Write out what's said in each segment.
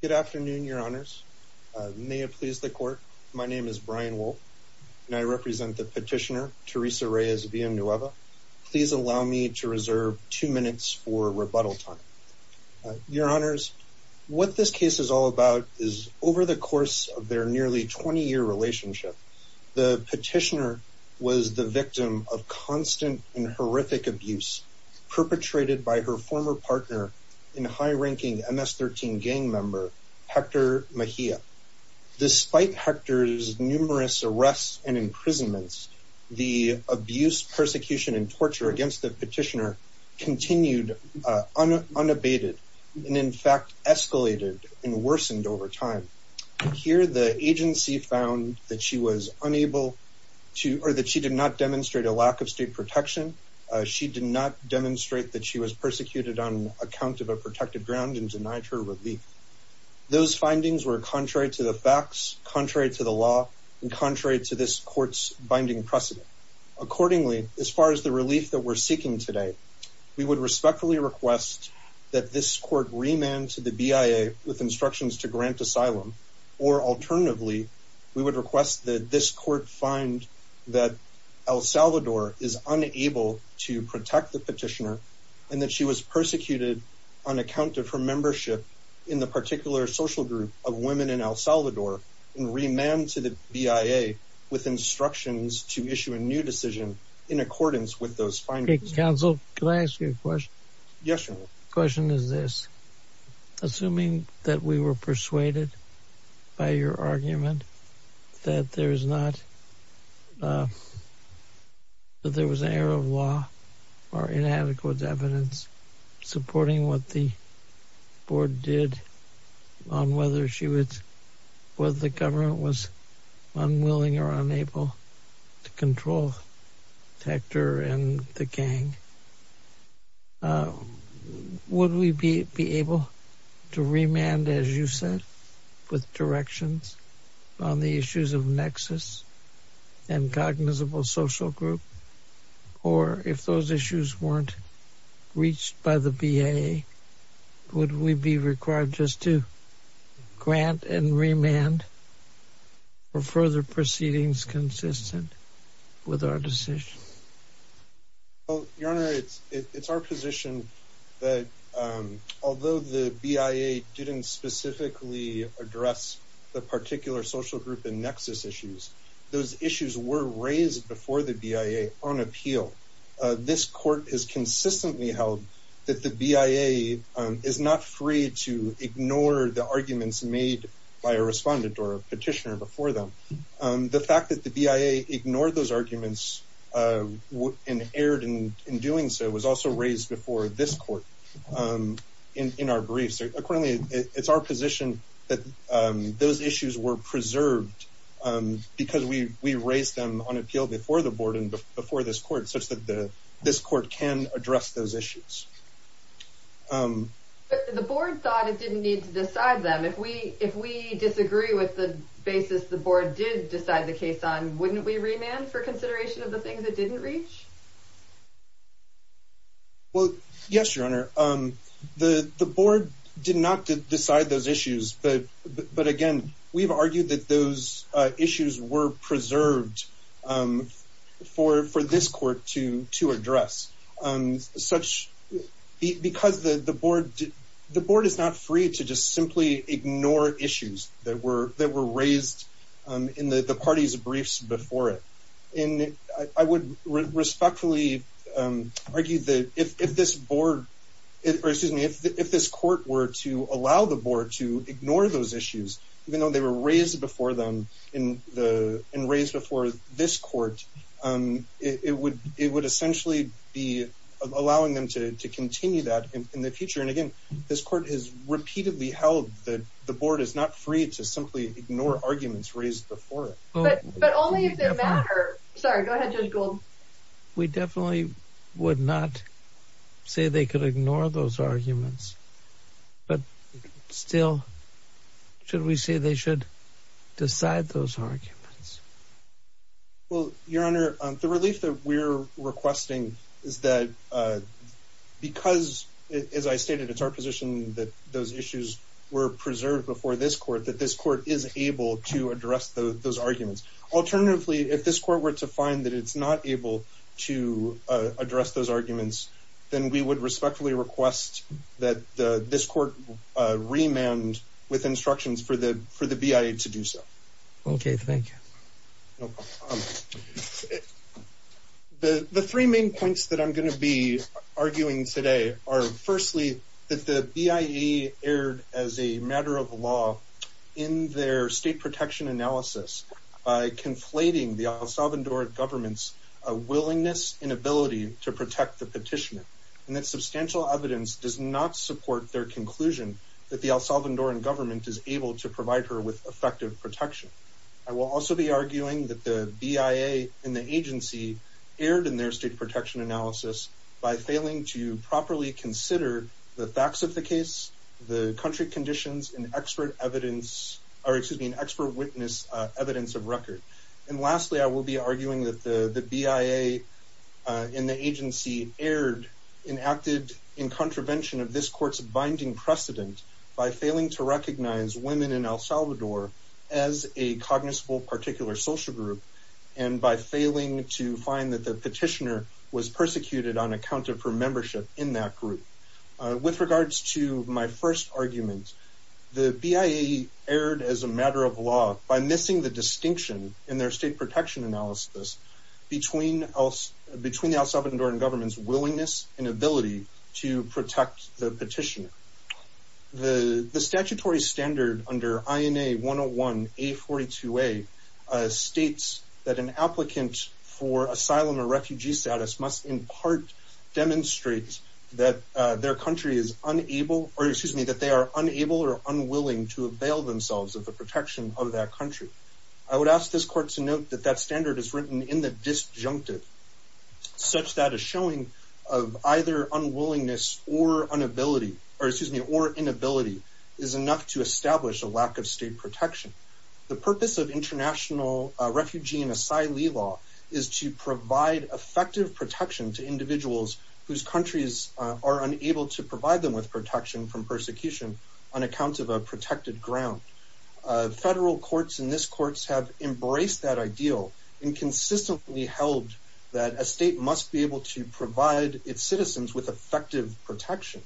Good afternoon, your honors. May it please the court, my name is Brian Wolfe, and I represent the petitioner Teresa Reyes Villanueva. Please allow me to reserve two minutes for rebuttal time. Your honors, what this case is all about is over the course of their nearly 20-year relationship, the petitioner was the victim of constant and horrific abuse perpetrated by her former partner and high-ranking MS-13 gang member, Hector Mejia. Despite Hector's numerous arrests and imprisonments, the abuse, persecution, and torture against the petitioner continued unabated, and in fact, escalated and worsened over time. Here, the agency found that she was unable to, or that she did not demonstrate a lack of state protection. She did not demonstrate that she was persecuted on account of a protected ground and denied her relief. Those findings were contrary to the facts, contrary to the law, and contrary to this court's binding precedent. Accordingly, as far as the relief that we're seeking today, we would respectfully request that this court remand to the BIA with instructions to grant asylum, or alternatively, we would request that this court find that El Salvador is unable to protect the petitioner, and that she was persecuted on account of her membership in the particular social group of women in El Salvador, and remand to the BIA with instructions to issue a new decision in accordance with those findings. Counsel, can I ask you a question? Yes, Your Honor. Question is this. Assuming that we were persuaded by your argument that there is not, that there was an error of law or inadequate evidence supporting what the board did on whether she was, whether the government was unwilling or unable to control Hector and the gang, would we be able to remand, as you said, with directions on the issues of nexus and cognizable social group, or if those issues weren't reached by the BIA, would we be required just to grant and remand, or further proceedings consistent with our decision? Well, Your Honor, it's our position that although the BIA didn't specifically address the particular social group and nexus issues, those issues were raised before the BIA on appeal. This court has consistently held that the BIA is not free to ignore the arguments made by a respondent or a petitioner before them. The fact that the BIA ignored those arguments and erred in doing so was also raised before this court in our briefs. Accordingly, it's our position that those issues were preserved because we raised them on appeal before the board and before this court, such that this court can address those issues. But the board thought it didn't need to decide them. If we disagree with the basis the board did decide the case on, wouldn't we remand for consideration of the things it didn't reach? Well, yes, Your Honor. The board did not decide those issues, but again, we've argued that those issues were preserved for this court to address. The board is not free to just simply ignore issues that were raised in the parties' briefs before it. I would respond to that. I would respectfully argue that if this court were to allow the board to ignore those issues, even though they were raised before them and raised before this court, it would essentially be allowing them to continue that in the future. And again, this court has repeatedly held that the board is not free to simply ignore arguments raised before it. But only if they matter. Sorry, go ahead, Judge Gould. We definitely would not say they could ignore those arguments. But still, should we say they should decide those arguments? Well, Your Honor, the relief that we're requesting is that because, as I stated, it's our position that those issues were preserved before this court, that this court is able to address those arguments. Alternatively, if this court were to find that it's not able to address those arguments, then we would respectfully request that this court remand with instructions for the BIA to do so. Okay, thank you. The three main points that I'm going to be arguing today are, firstly, that the BIA erred as a matter of law in their state protection analysis by conflating the El Salvadoran government's willingness and ability to protect the petitioner. And that substantial evidence does not support their conclusion that the El Salvadoran government is able to provide her with effective protection. I will also be arguing that the BIA and the agency erred in their state protection analysis by failing to properly consider the facts of the case, the country conditions, and expert evidence, or excuse me, and expert witness evidence of record. And lastly, I will be arguing that the BIA and the agency erred and acted in contravention of this court's binding precedent by failing to recognize women in El Salvador as a cognizable particular social group and by failing to find that the petitioner was persecuted on account of her membership in that group. With regards to my first argument, the BIA erred as a matter of law by missing the distinction in their state protection analysis between the El Salvadoran government's willingness and ability to protect the petitioner. The statutory standard under INA 101-A42A states that an applicant for asylum or refugee status must in part demonstrate that their country is unable, or excuse me, that they are unable or unwilling to avail themselves of the protection of that country. I would ask this court to note that that standard is written in the disjunctive, such that a showing of either unwillingness or inability is enough to establish a lack of state protection. The purpose of international refugee and asylee law is to provide effective protection to individuals whose countries are unable to provide them with protection from persecution on account of a protected ground. Federal courts and this court have embraced that ideal and consistently held that a state must be able to provide its citizens with effective protection.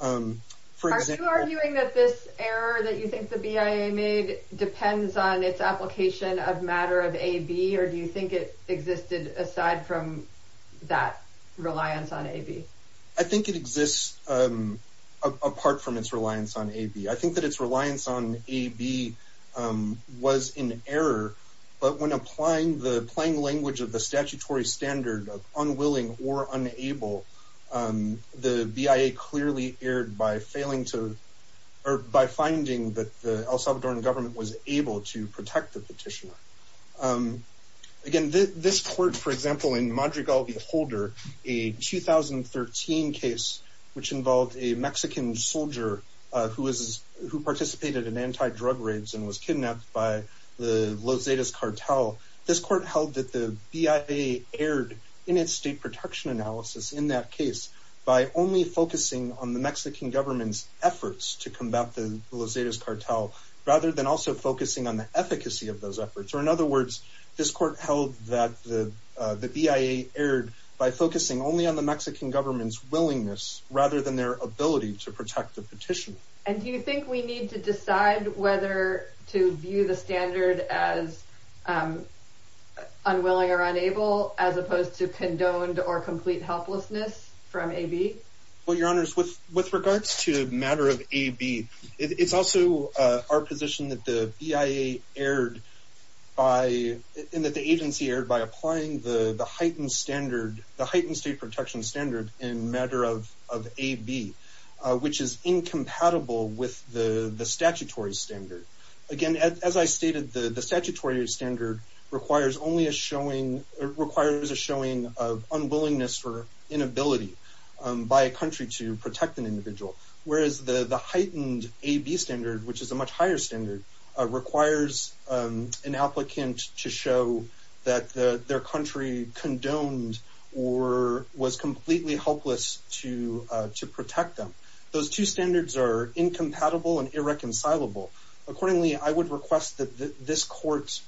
Are you arguing that this error that you think the BIA made depends on its application of matter of AB, or do you think it existed aside from that reliance on AB? I think it exists apart from its reliance on AB. I think that its reliance on AB was in error, but when applying the plain language of the statutory standard of unwilling or unwillingness, it was clearly erred by finding that the El Salvadoran government was able to protect the petitioner. Again, this court, for example, in Madrigal v. Holder, a 2013 case which involved a Mexican soldier who participated in anti-drug raids and was kidnapped by the Los Zetas cartel, this court held that the BIA erred in its state protection analysis in that case by only focusing on the Mexican government's efforts to combat the Los Zetas cartel rather than also focusing on the efficacy of those efforts. In other words, this court held that the BIA erred by focusing only on the Mexican government's willingness rather than their ability to protect the petitioner. And do you think we need to decide whether to view the standard as unwilling or unable as opposed to condoned or complete helplessness from AB? Well, Your Honors, with regards to matter of AB, it's also our position that the BIA erred by and that the agency erred by applying the heightened state protection standard in matter of AB, which is incompatible with the statutory standard. Again, as I stated, the standard requires a showing of unwillingness or inability by a country to protect an individual, whereas the heightened AB standard, which is a much higher standard, requires an applicant to show that their country condoned or was completely helpless to protect them. Those two standards are incompatible and irreconcilable. Accordingly, I would request that this court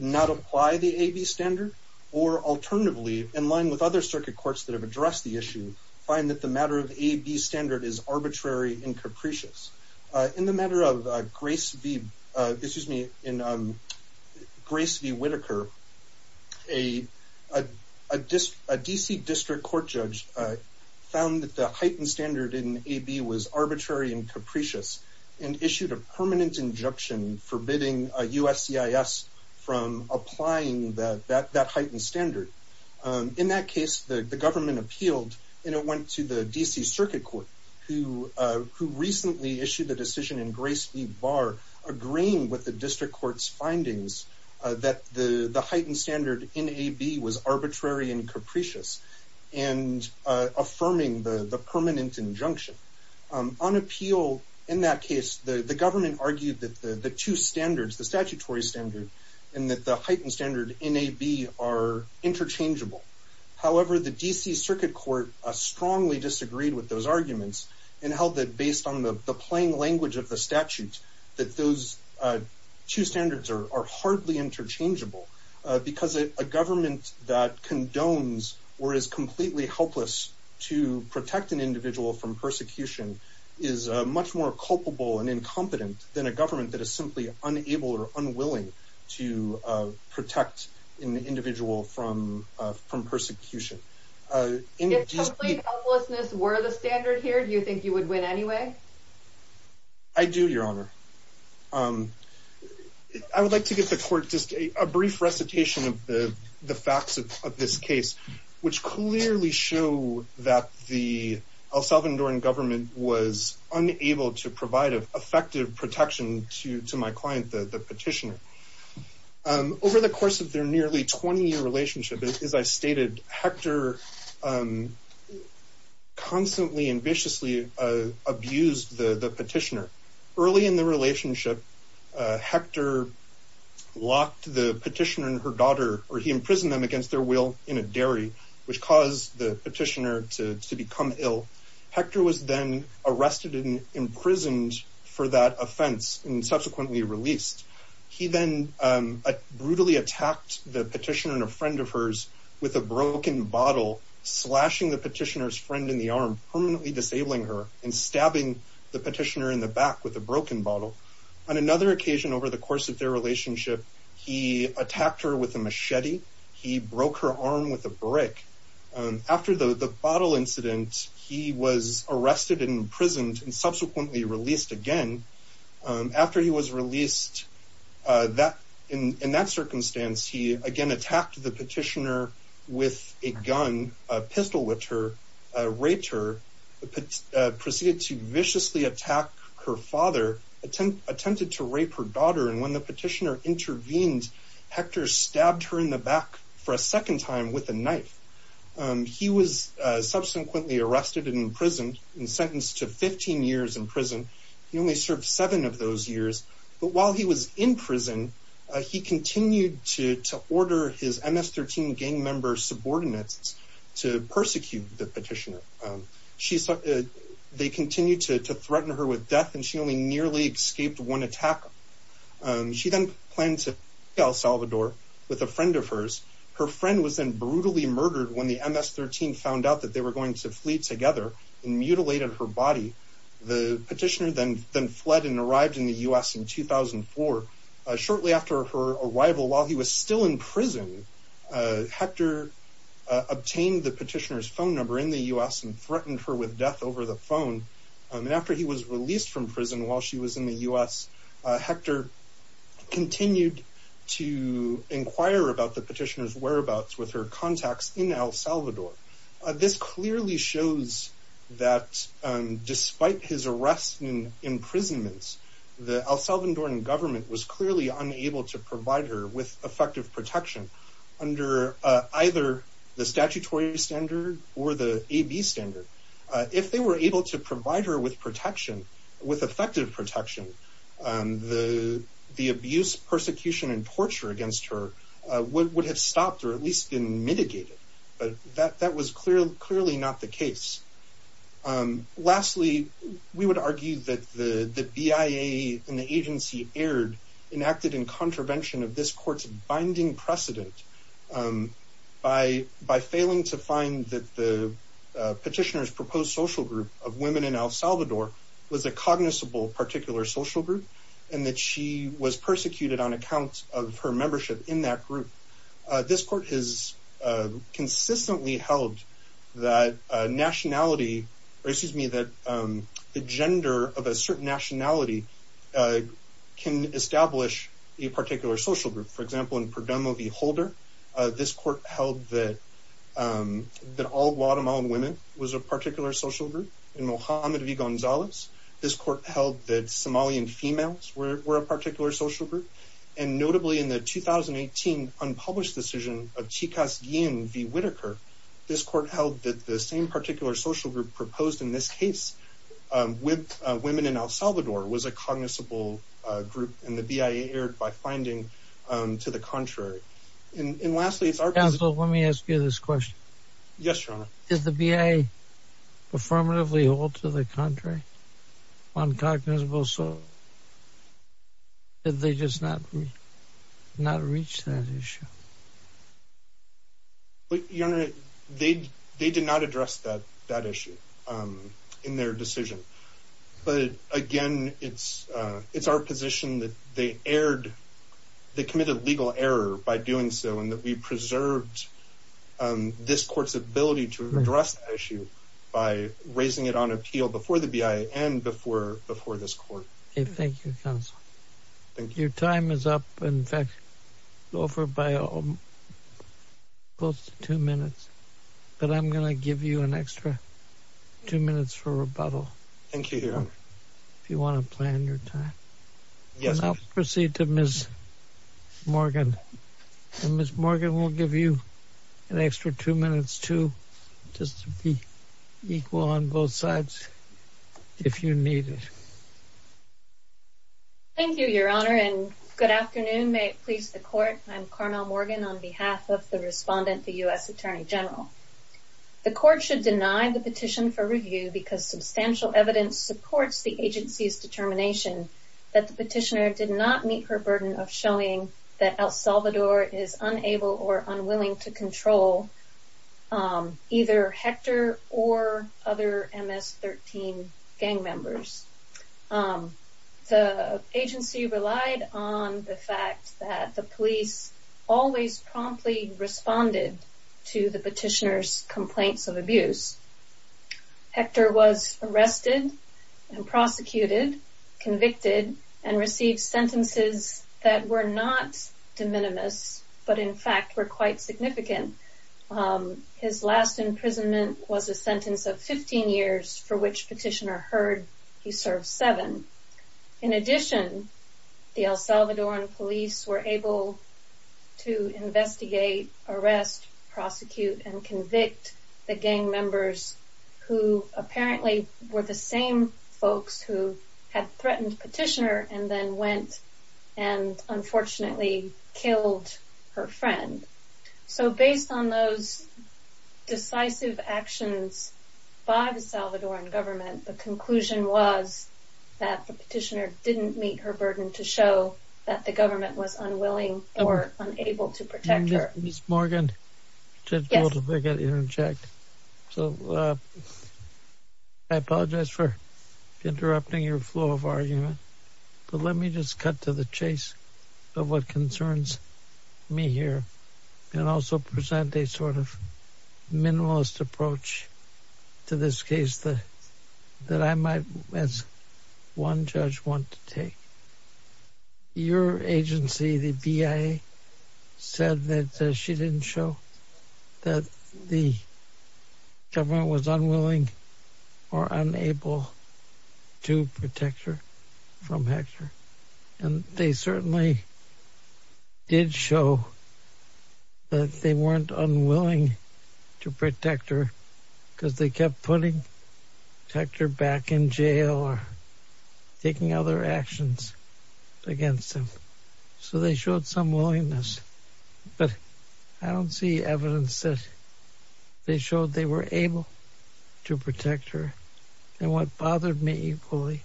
not apply the AB standard or alternatively, in line with other circuit courts that have addressed the issue, find that the matter of AB standard is arbitrary and capricious. In the matter of Grace v. Whitaker, a D.C. District Court judge found that the heightened standard in AB was arbitrary and capricious and issued a permanent injunction forbidding a USCIS from applying that heightened standard. In that case, the government appealed and it went to the D.C. Circuit Court, who recently issued a decision in Grace v. Barr agreeing with the District Court's findings that the heightened standard in AB was arbitrary and capricious and affirming the permanent injunction. On appeal in that case, the government argued that the two standards, the statutory standard and that the heightened standard in AB are interchangeable. However, the D.C. Circuit Court strongly disagreed with those arguments and held that based on the plain language of the statute, that those two standards are hardly interchangeable because a government that condones or is completely helpless to a government that is simply unable or unwilling to protect an individual from persecution. If complete helplessness were the standard here, do you think you would win anyway? I do, Your Honor. I would like to give the court just a brief recitation of the facts of this case, which clearly show that the El Salvadoran government was unable to provide effective protection to my client, the petitioner. Over the course of their nearly 20-year relationship, as I stated, Hector constantly and viciously abused the petitioner. Early in the relationship, Hector locked the petitioner and her daughter, or he imprisoned them against their will in a dairy, which caused the petitioner to become ill. Hector was then arrested and imprisoned for that offense and subsequently released. He then brutally attacked the petitioner and a friend of hers with a broken bottle, slashing the petitioner's friend in the arm, permanently disabling her and stabbing the petitioner in the back with a broken bottle. On another occasion over the course of their relationship, he attacked her with a machete. He broke her arm with a brick. After the bottle incident, he was arrested and imprisoned and subsequently released again. After he was released, in that circumstance, he again attacked the petitioner with a gun, pistol-whipped her, raped her, proceeded to viciously attack her father, attempted to rape her daughter, and when the petitioner intervened, Hector stabbed her in the back for a second time with a knife. He was subsequently arrested and imprisoned and sentenced to 15 years in prison. He only served seven of those years, but while he was in prison, he continued to order his MS-13 gang member subordinates to persecute the petitioner. They continued to threaten her with death and she only nearly escaped one attack. She then planned to flee El Salvador with a friend of hers. Her friend was then mutilated her body. The petitioner then fled and arrived in the U.S. in 2004. Shortly after her arrival, while he was still in prison, Hector obtained the petitioner's phone number in the U.S. and threatened her with death over the phone. After he was released from prison while she was in the U.S., Hector continued to inquire about the petitioner's whereabouts with her contacts in El Salvador. This clearly shows that despite his arrest and imprisonment, the El Salvadoran government was clearly unable to provide her with effective protection under either the statutory standard or the AB standard. If they were able to provide her with protection, with effective protection, the abuse, persecution, and torture against her would have stopped or at least been mitigated, but that was clearly not the case. Lastly, we would argue that the BIA and the agency aired enacted in contravention of this court's binding precedent by failing to find that the petitioner's proposed social group of women in El Salvador was a cognizable particular social group and that she was persecuted on account of her membership in that group. This court has consistently held that the gender of a certain nationality can establish a particular social group. For example, in Perdomo v. Holder, this court held that all Guatemalan women was a particular social group. In Mohammed v. Gonzalez, this court held that the same social group proposed in this case with women in El Salvador was a cognizable group and the BIA aired by finding to the contrary. Lastly, it's our... Counsel, let me ask you this question. Yes, Your Honor. Did the BIA affirmatively hold to the contrary on cognizable social groups? Did they just not reach that issue? Your Honor, they did not address that issue in their decision, but again, it's our position that they committed legal error by doing so and that we preserved this court's ability to address that issue by raising it on appeal before the BIA and before this court. Thank you, Counsel. Your time is up. In fact, it's over by close to two minutes, but I'm going to give you an extra two minutes for rebuttal if you want to plan your time. Yes, Your Honor. I'll proceed to Ms. Morgan. Ms. Morgan will give you an extra two minutes, too, just to be equal on both sides if you need it. Thank you, Your Honor, and good afternoon. May it please the court, I'm Carmel Morgan on behalf of the respondent, the U.S. Attorney General. The court should deny the petition for review because substantial evidence supports the agency's determination that the petitioner did not meet her burden of showing that El Salvador is unable or unwilling to control either Hector or other MS-13 gang members. The agency relied on the fact that the police always promptly responded to the petitioner's complaints of abuse. Hector was arrested and prosecuted, convicted, and received sentences that were not de minimis, but in fact were quite significant. His last imprisonment was a sentence of 15 years for which petitioner heard he served seven. In addition, the El Salvadoran police were able to investigate, arrest, prosecute, and convict the gang members who apparently were the same folks who had been arrested. So based on those decisive actions by the Salvadoran government, the conclusion was that the petitioner didn't meet her burden to show that the government was unwilling or unable to protect her. Ms. Morgan, I apologize for interrupting your flow of argument, but let me just cut to the point and also present a sort of minimalist approach to this case that I might, as one judge, want to take. Your agency, the BIA, said that she didn't show that the government was unwilling or unable to protect her from Hector, and they certainly did show that the weren't unwilling to protect her because they kept putting Hector back in jail or taking other actions against him. So they showed some willingness, but I don't see evidence that they showed they were able to protect her. And what bothered me equally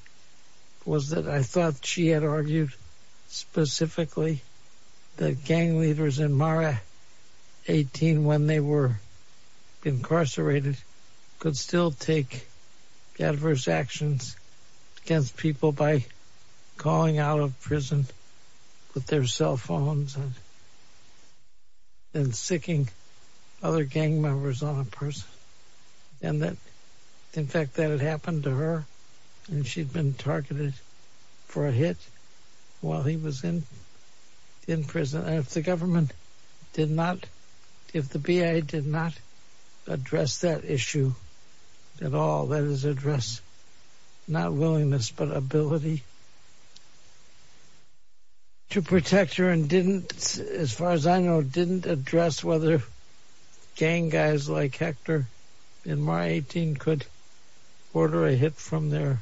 was that I thought she had argued specifically that gang leaders in Mara 18, when they were incarcerated, could still take adverse actions against people by calling out of prison with their cell phones and siccing other gang members on a person. And that, in fact, that had happened to her and she'd been targeted for a hit while he was in prison. If the government did not, if the BIA did not address that issue at all, that is address not willingness, but ability to protect her and didn't, as far as I know, didn't address whether gang guys like Hector in Mara 18 could order a hit from their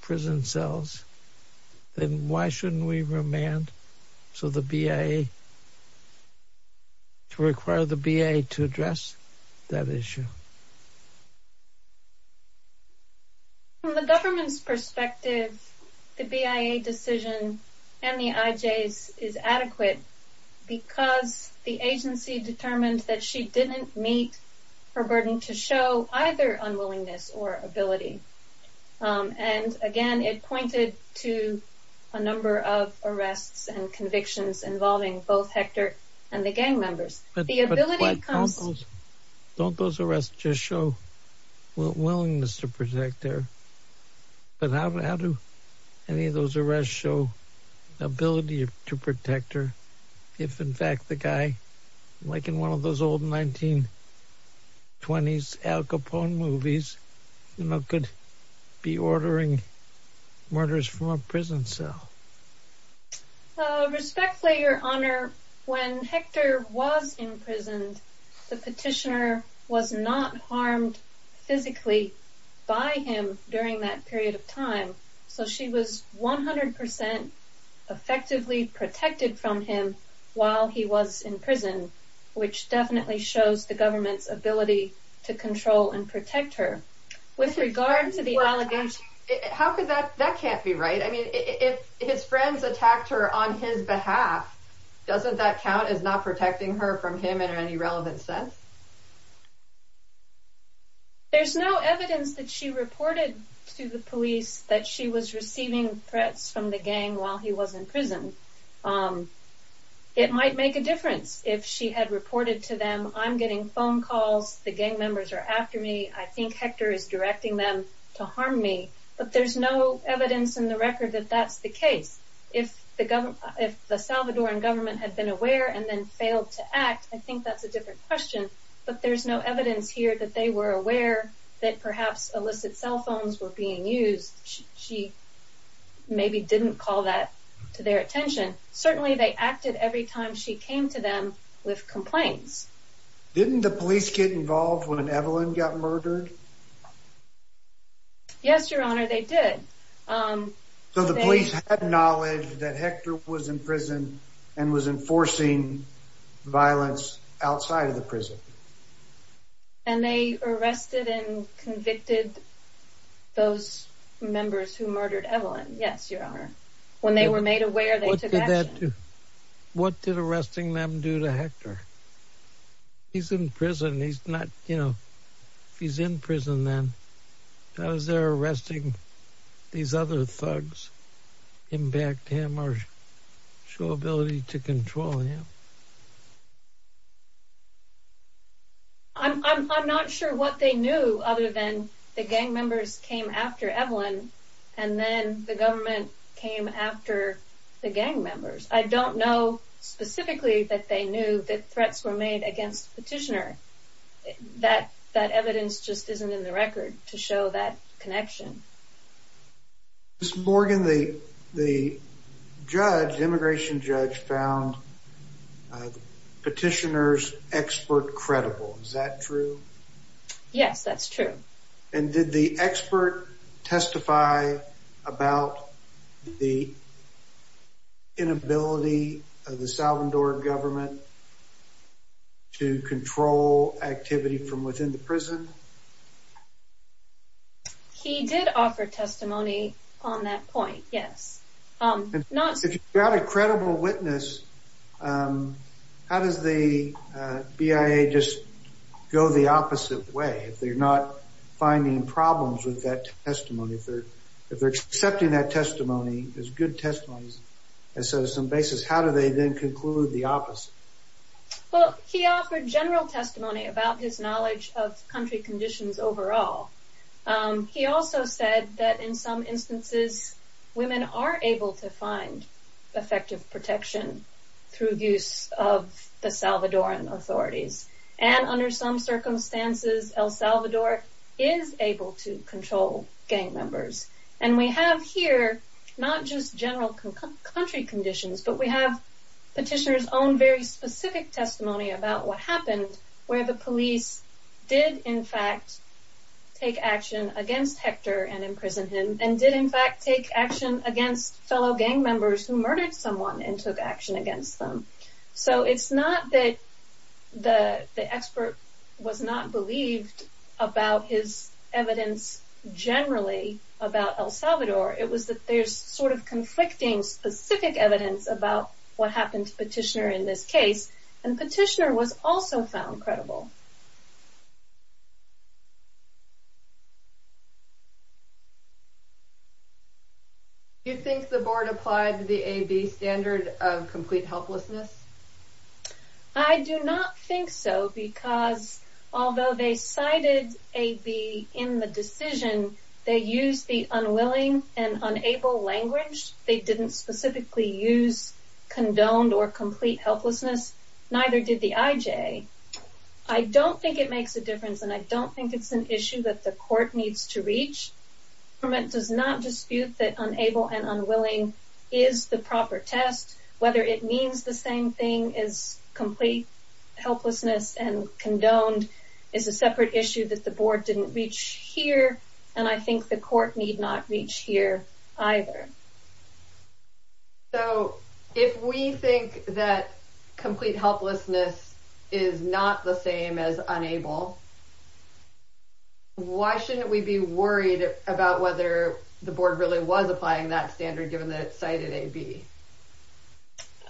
prison cells, then why shouldn't we remand so the BIA, to require the BIA to address that issue? From the government's perspective, the BIA decision and the IJ's is adequate because the agency determined that she didn't meet her burden to show either unwillingness or ability. And again, it pointed to a number of arrests and convictions involving both Hector and the gang members. But don't those arrests just show willingness to protect her? But how do any of those arrests show ability to protect her if, in fact, the guy, like in one of those old 1920s Al Capone movies, you know, could be ordering murders from a prison cell? Respectfully, Your Honor, when Hector was imprisoned, the petitioner was not harmed physically by him during that period of time. So she was 100 percent effectively protected from him while he was in prison, which definitely shows the government's ability to control and protect her. With regard to the allegation... How could that... That can't be right. I mean, if his friends attacked her on his behalf, doesn't that count as not protecting her from him in any relevant sense? There's no evidence that she reported to the police that she was receiving threats from the gang while he was in prison. It might make a difference if she had reported to them, I'm getting phone calls, the gang members are after me, I think Hector is directing them to harm me. But there's no evidence in the record that that's the case. If the Salvadoran government had been aware and then failed to act, I think that's a different question. But there's no evidence here that they were aware that perhaps illicit cell phones were being used. She maybe didn't call that to their attention. Certainly they acted every time she came to them with complaints. Didn't the police get involved when Evelyn got murdered? Yes, Your Honor, they did. So the police had knowledge that Hector was in prison and was enforcing violence outside of the prison? And they arrested and convicted those members who murdered Evelyn. Yes, Your Honor. When they were made aware, they took action. What did arresting them do to Hector? He's in prison, he's not, you know, if he's in prison, what other thugs impact him or show ability to control him? I'm not sure what they knew other than the gang members came after Evelyn and then the government came after the gang members. I don't know specifically that they knew that threats were made against Petitioner. That evidence just isn't in the record to show that connection. Ms. Morgan, the judge, immigration judge, found Petitioner's expert credible. Is that true? Yes, that's true. And did the expert testify about the inability of the Salvador government to control activity from within the prison? He did offer testimony on that point, yes. If you have a credible witness, how does the BIA just go the opposite way if they're not finding problems with that testimony? If they're accepting that testimony as good testimony as some basis, how do they then conclude the opposite? Well, he offered general testimony about his knowledge of country conditions overall. He also said that in some instances, women are able to find effective protection through use of the Salvadoran authorities. And under some circumstances, El Salvador is able to control gang members. And we have here, not just general country conditions, but we have Petitioner's own very specific testimony about what happened, where the police did, in fact, take action against Hector and imprison him, and did, in fact, take action against fellow gang members who murdered someone and took action against them. So it's not that the expert was not believed about his evidence generally about El Salvador. It was that there's sort of conflicting specific evidence about what happened to Petitioner in this case. And Petitioner was also found credible. Do you think the board applied the AB standard of complete helplessness? I do not think so, because although they cited AB in the decision, they used the unwilling and unable language. They didn't specifically use condoned or complete helplessness. Neither did the IJ. I don't think it makes a difference, and I don't think it's an issue that the court needs to reach. The government does not dispute that unable and unwilling is the proper test. Whether it means the same thing as complete helplessness and condoned is a separate issue that the board didn't reach here, and I think the court need not reach here either. So if we think that complete helplessness is not the same as unable, why shouldn't we be worried about whether the board really was applying that standard given that it cited AB?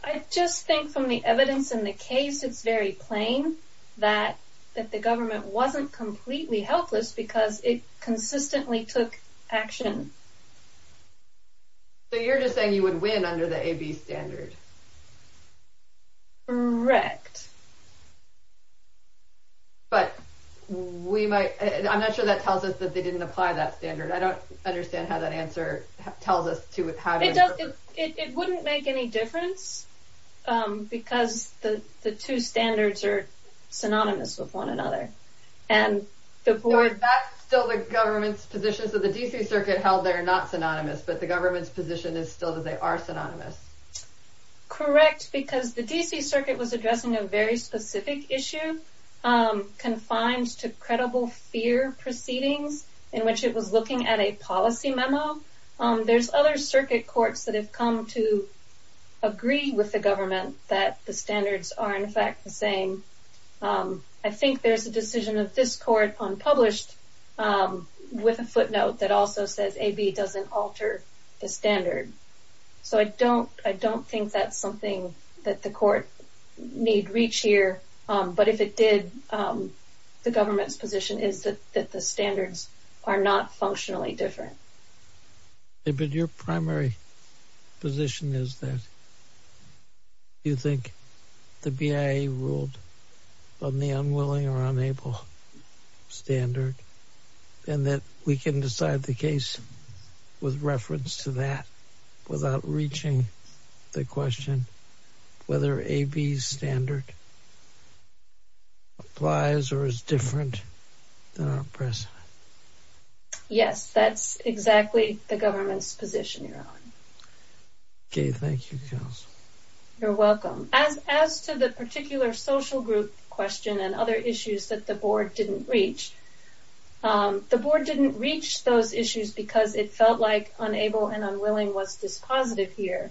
I just think from the evidence in the case, it's very plain that the government wasn't completely helpless because it consistently took action. So you're just saying you would win under the AB standard? Correct. But we might, I'm not sure that tells us that they didn't apply that standard. I don't understand how that answer tells us to have... It wouldn't make any difference because the two standards are synonymous with one another. So that's still the government's position, so the D.C. Circuit held they're not synonymous, but the government's position is still that they are synonymous. Correct, because the D.C. Circuit was addressing a very specific issue confined to credible fear proceedings in which it was looking at a policy memo. There's other circuit courts that have come to agree with the government that the standards are in fact the same. I think there's a decision of this court unpublished with a footnote that also says AB doesn't alter the standard. So I don't think that's something that the court need reach here, but if it did, the government's position is that the standards are not functionally different. But your primary position is that you think the BIA ruled on the unwilling or unable standard and that we can decide the case with reference to that without reaching the question whether AB's standard applies or is different than our precedent. Yes, that's exactly the government's position, Your Honor. Okay, thank you, Counsel. You're welcome. As to the particular social group question and other issues that the board didn't reach, the board didn't reach those issues because it felt like unable and unwilling was dispositive here.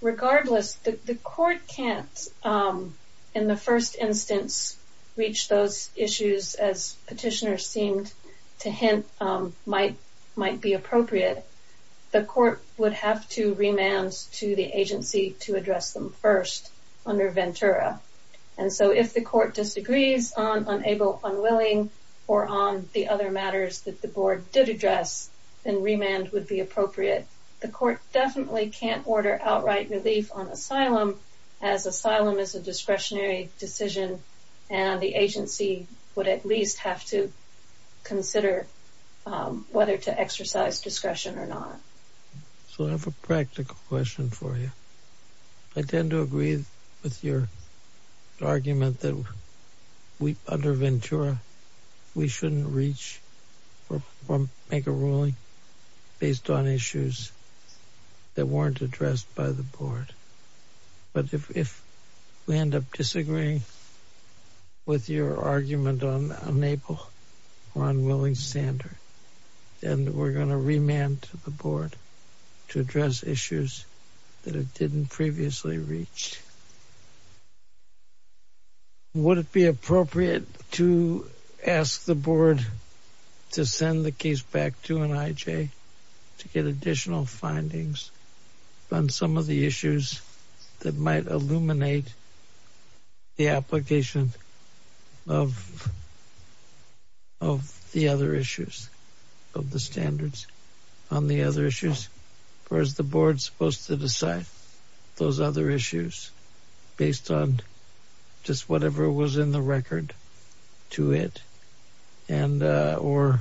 Regardless, the court can't in the first instance reach those issues as petitioners seemed to hint might be appropriate. The court would have to remand to the agency to address them first under Ventura. And so if the court disagrees on unable-unwilling or on the other matters that the board did address, then remand would be appropriate. The court definitely can't order outright relief on asylum as asylum is a discretionary decision and the agency would at least have to consider whether to exercise discretion or not. So I have a practical question for you. I tend to agree with your argument that under Ventura we shouldn't reach or make a ruling based on issues that weren't addressed by the board. But if we end up disagreeing with your argument on unable-unwilling standard, then we're going to remand to the board to address issues that it didn't previously reach. Would it be appropriate to ask the board to send the case back to NIJ to get additional findings on some of the issues that might illuminate the application of the other issues of the standards on the other issues? Or is the board supposed to decide those other issues based on just whatever was in the record to it? Or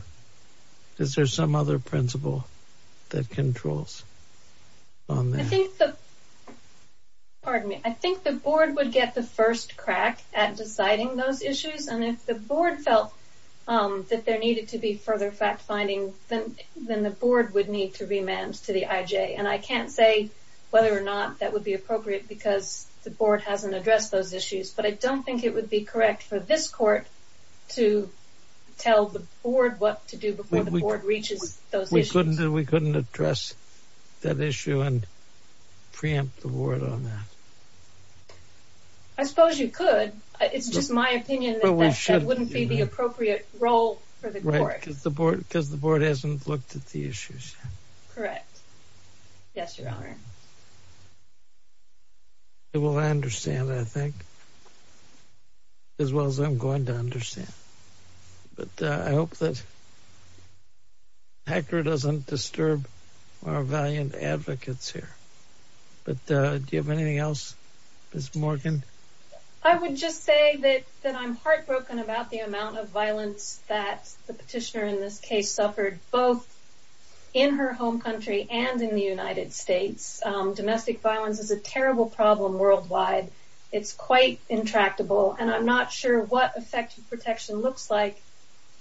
is there some other principle that controls on that? I think the board would get the first crack at deciding those issues. And if the board felt that there needed to be further fact-finding, then the board would need to remand to the IJ. And I can't say whether or not that would be appropriate because the board hasn't addressed those issues. But I don't think it would be correct for this court to tell the board what to do before the board reaches those issues. We couldn't address that issue and preempt the board on that? I suppose you could. It's just my opinion that that wouldn't be the appropriate role for the court. Right. Because the board hasn't looked at the issues yet. Correct. Yes, Your Honor. Well, I understand, I think. As well as I'm going to understand. But I hope that HECR doesn't disturb our valiant advocates here. But do you have anything else, Ms. Morgan? I would just say that I'm heartbroken about the amount of violence that the petitioner in this case suffered both in her home country and in the United States. Domestic violence is a terrible problem worldwide. It's quite intractable. And I'm not sure what effective protection looks like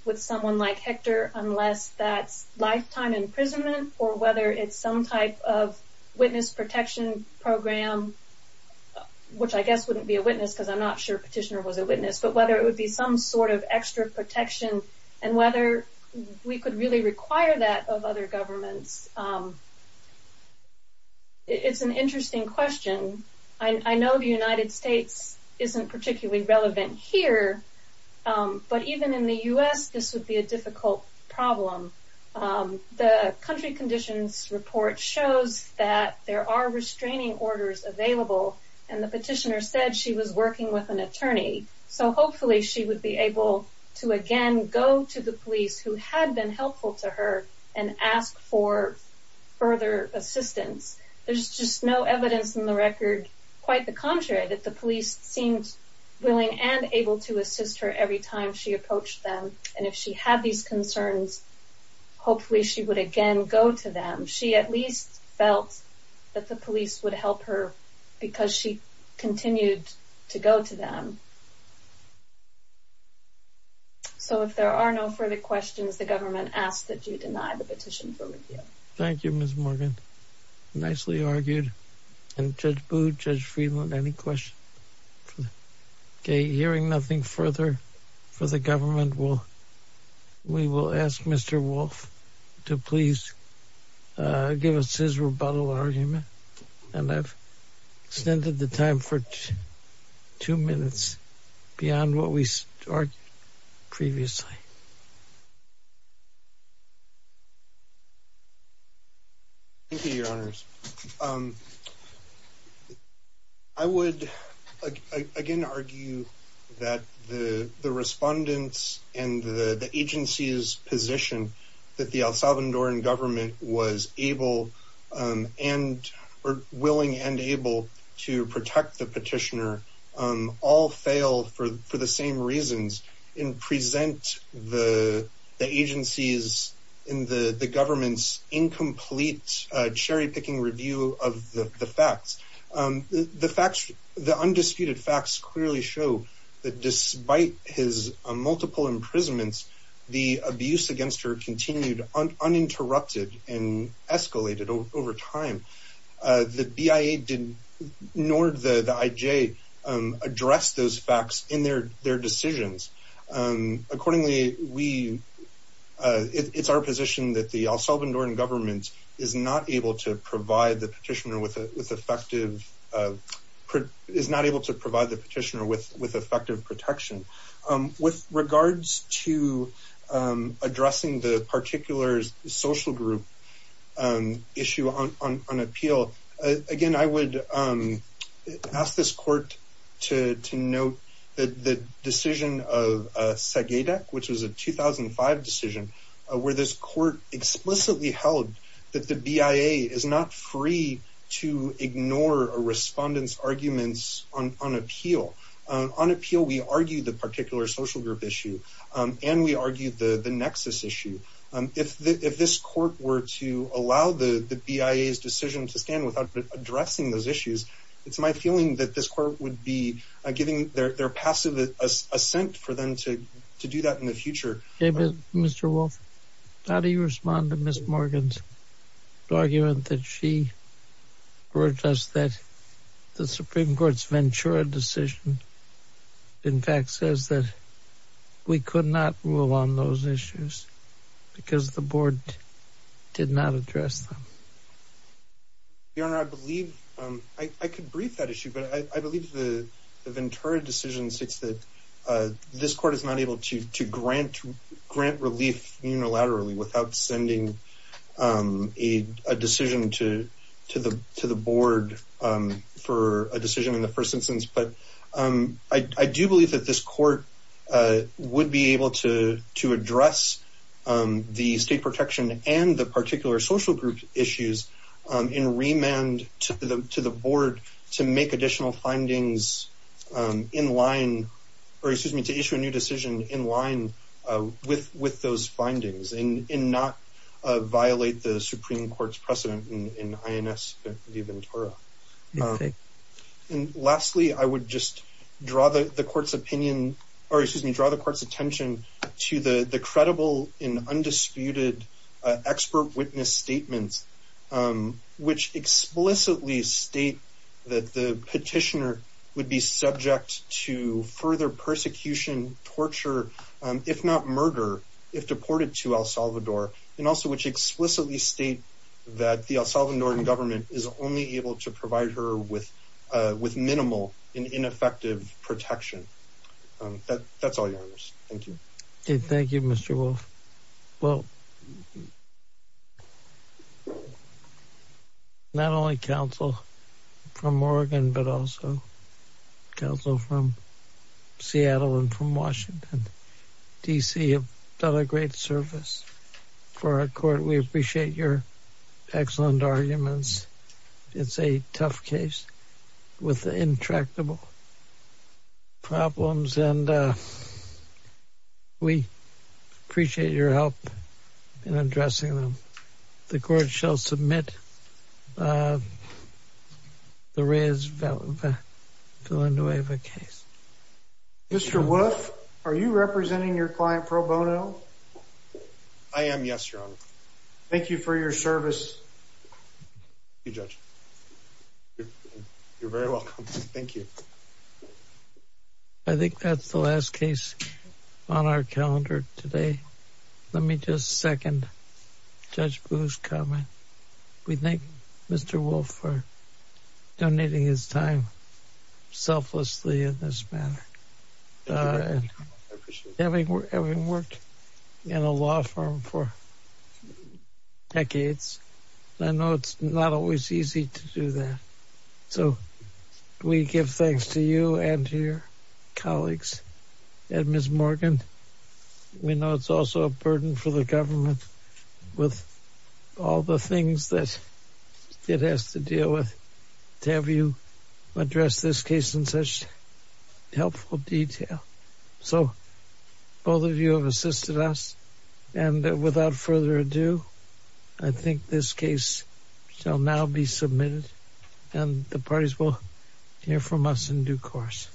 with someone like HECR unless that's lifetime imprisonment or whether it's some type of witness protection program, which I guess wouldn't be a witness because I'm not sure a petitioner was a witness, but whether it would be some sort of extra protection and whether we could really require that of other governments. It's an interesting question. I know the United States isn't particularly relevant here, but even in the U.S. this would be a difficult problem. The country conditions report shows that there are restraining orders available and the petitioner said she was working with an attorney. So hopefully she would be able to again go to the police who had been helpful to her and ask for further assistance. There's just no evidence in the record, quite the contrary, that the police seemed willing and able to assist her every time she approached them. And if she had these concerns, hopefully she would again go to them. She at least felt that the police would help her because she continued to go to them. So if there are no further questions, the government asks that you deny the petition for review. Thank you, Ms. Morgan. Nicely argued. And Judge Booth, Judge Friedland, any questions? Okay, hearing nothing further for the government, we will ask Mr. Wolf to please give us his rebuttal argument. And I've extended the time for two minutes beyond what we started previously. Thank you, Your Honors. I would again argue that the respondents and the agency's position that the El Salvadoran government was willing and able to protect the petitioner all fail for the same reasons and present the agency's and the government's incomplete cherry-picking review of the facts. The undisputed facts clearly show that despite his multiple imprisonments, the abuse against her continued uninterrupted and escalated over time. The BIA ignored the IJ, addressed those facts in their decisions. Accordingly, it's our position that the El Salvadoran government is not able to provide the petitioner with effective protection. With regards to addressing the particular social group issue on appeal, again, I would ask this court to note that the decision of SAGEDEC, which was a 2005 decision, where this court explicitly held that the BIA is not free to ignore a respondent's arguments on appeal. On appeal, we argued the particular social group issue and we argued the nexus issue. If this court were to allow the BIA's decision to stand without addressing those issues, it's my feeling that this court would be giving their passive assent for them to do that in the future. David, Mr. Wolf, how do you respond to Ms. Morgan's argument that she urged us that the Supreme Court's Ventura decision, in fact, says that we could not rule on those issues because the board did not address them? Your Honor, I believe, I could brief that issue, but I believe the Ventura decision states that this court is not able to grant relief unilaterally without sending a decision to the board for a decision in the first instance. I do believe that this court would be able to address the state protection and the particular social group issues in remand to the board to make additional findings in line, or excuse me, to issue a new decision in line with those findings and not violate the Supreme Court's precedent in INS v. Ventura. Lastly, I would just draw the court's opinion, or excuse me, draw the court's attention to the credible and undisputed expert witness statements which explicitly state that the petitioner would be subject to further persecution, torture, if not murder, if deported to El Salvador, and also which explicitly state that the El Salvadoran government is only able to provide her with minimal and ineffective protection. That's all, Your Honors. Thank you. Thank you, Mr. Wolf. Well, not only counsel from Oregon, but also counsel from Seattle and from Washington, D.C. have done a great service for our court. We appreciate your excellent arguments. It's a tough case with intractable problems, and we appreciate your help in addressing them. The court shall submit the Reyes-Valendoeva case. Mr. Wolf, are you representing your client, Pro Bono? Thank you for your service. Thank you, Judge. You're very welcome. Thank you. I think that's the last case on our calendar today. Let me just second Judge Boo's comment. We thank Mr. Wolf for donating his time selflessly in this manner. I appreciate it. Having worked in a law firm for decades, I know it's not always easy to do that. So we give thanks to you and to your colleagues at Ms. Morgan. We know it's also a burden for the government with all the things that it has to deal with to have you address this case in such helpful detail. So both of you have assisted us. And without further ado, I think this case shall now be submitted, and the parties will hear from us in due course.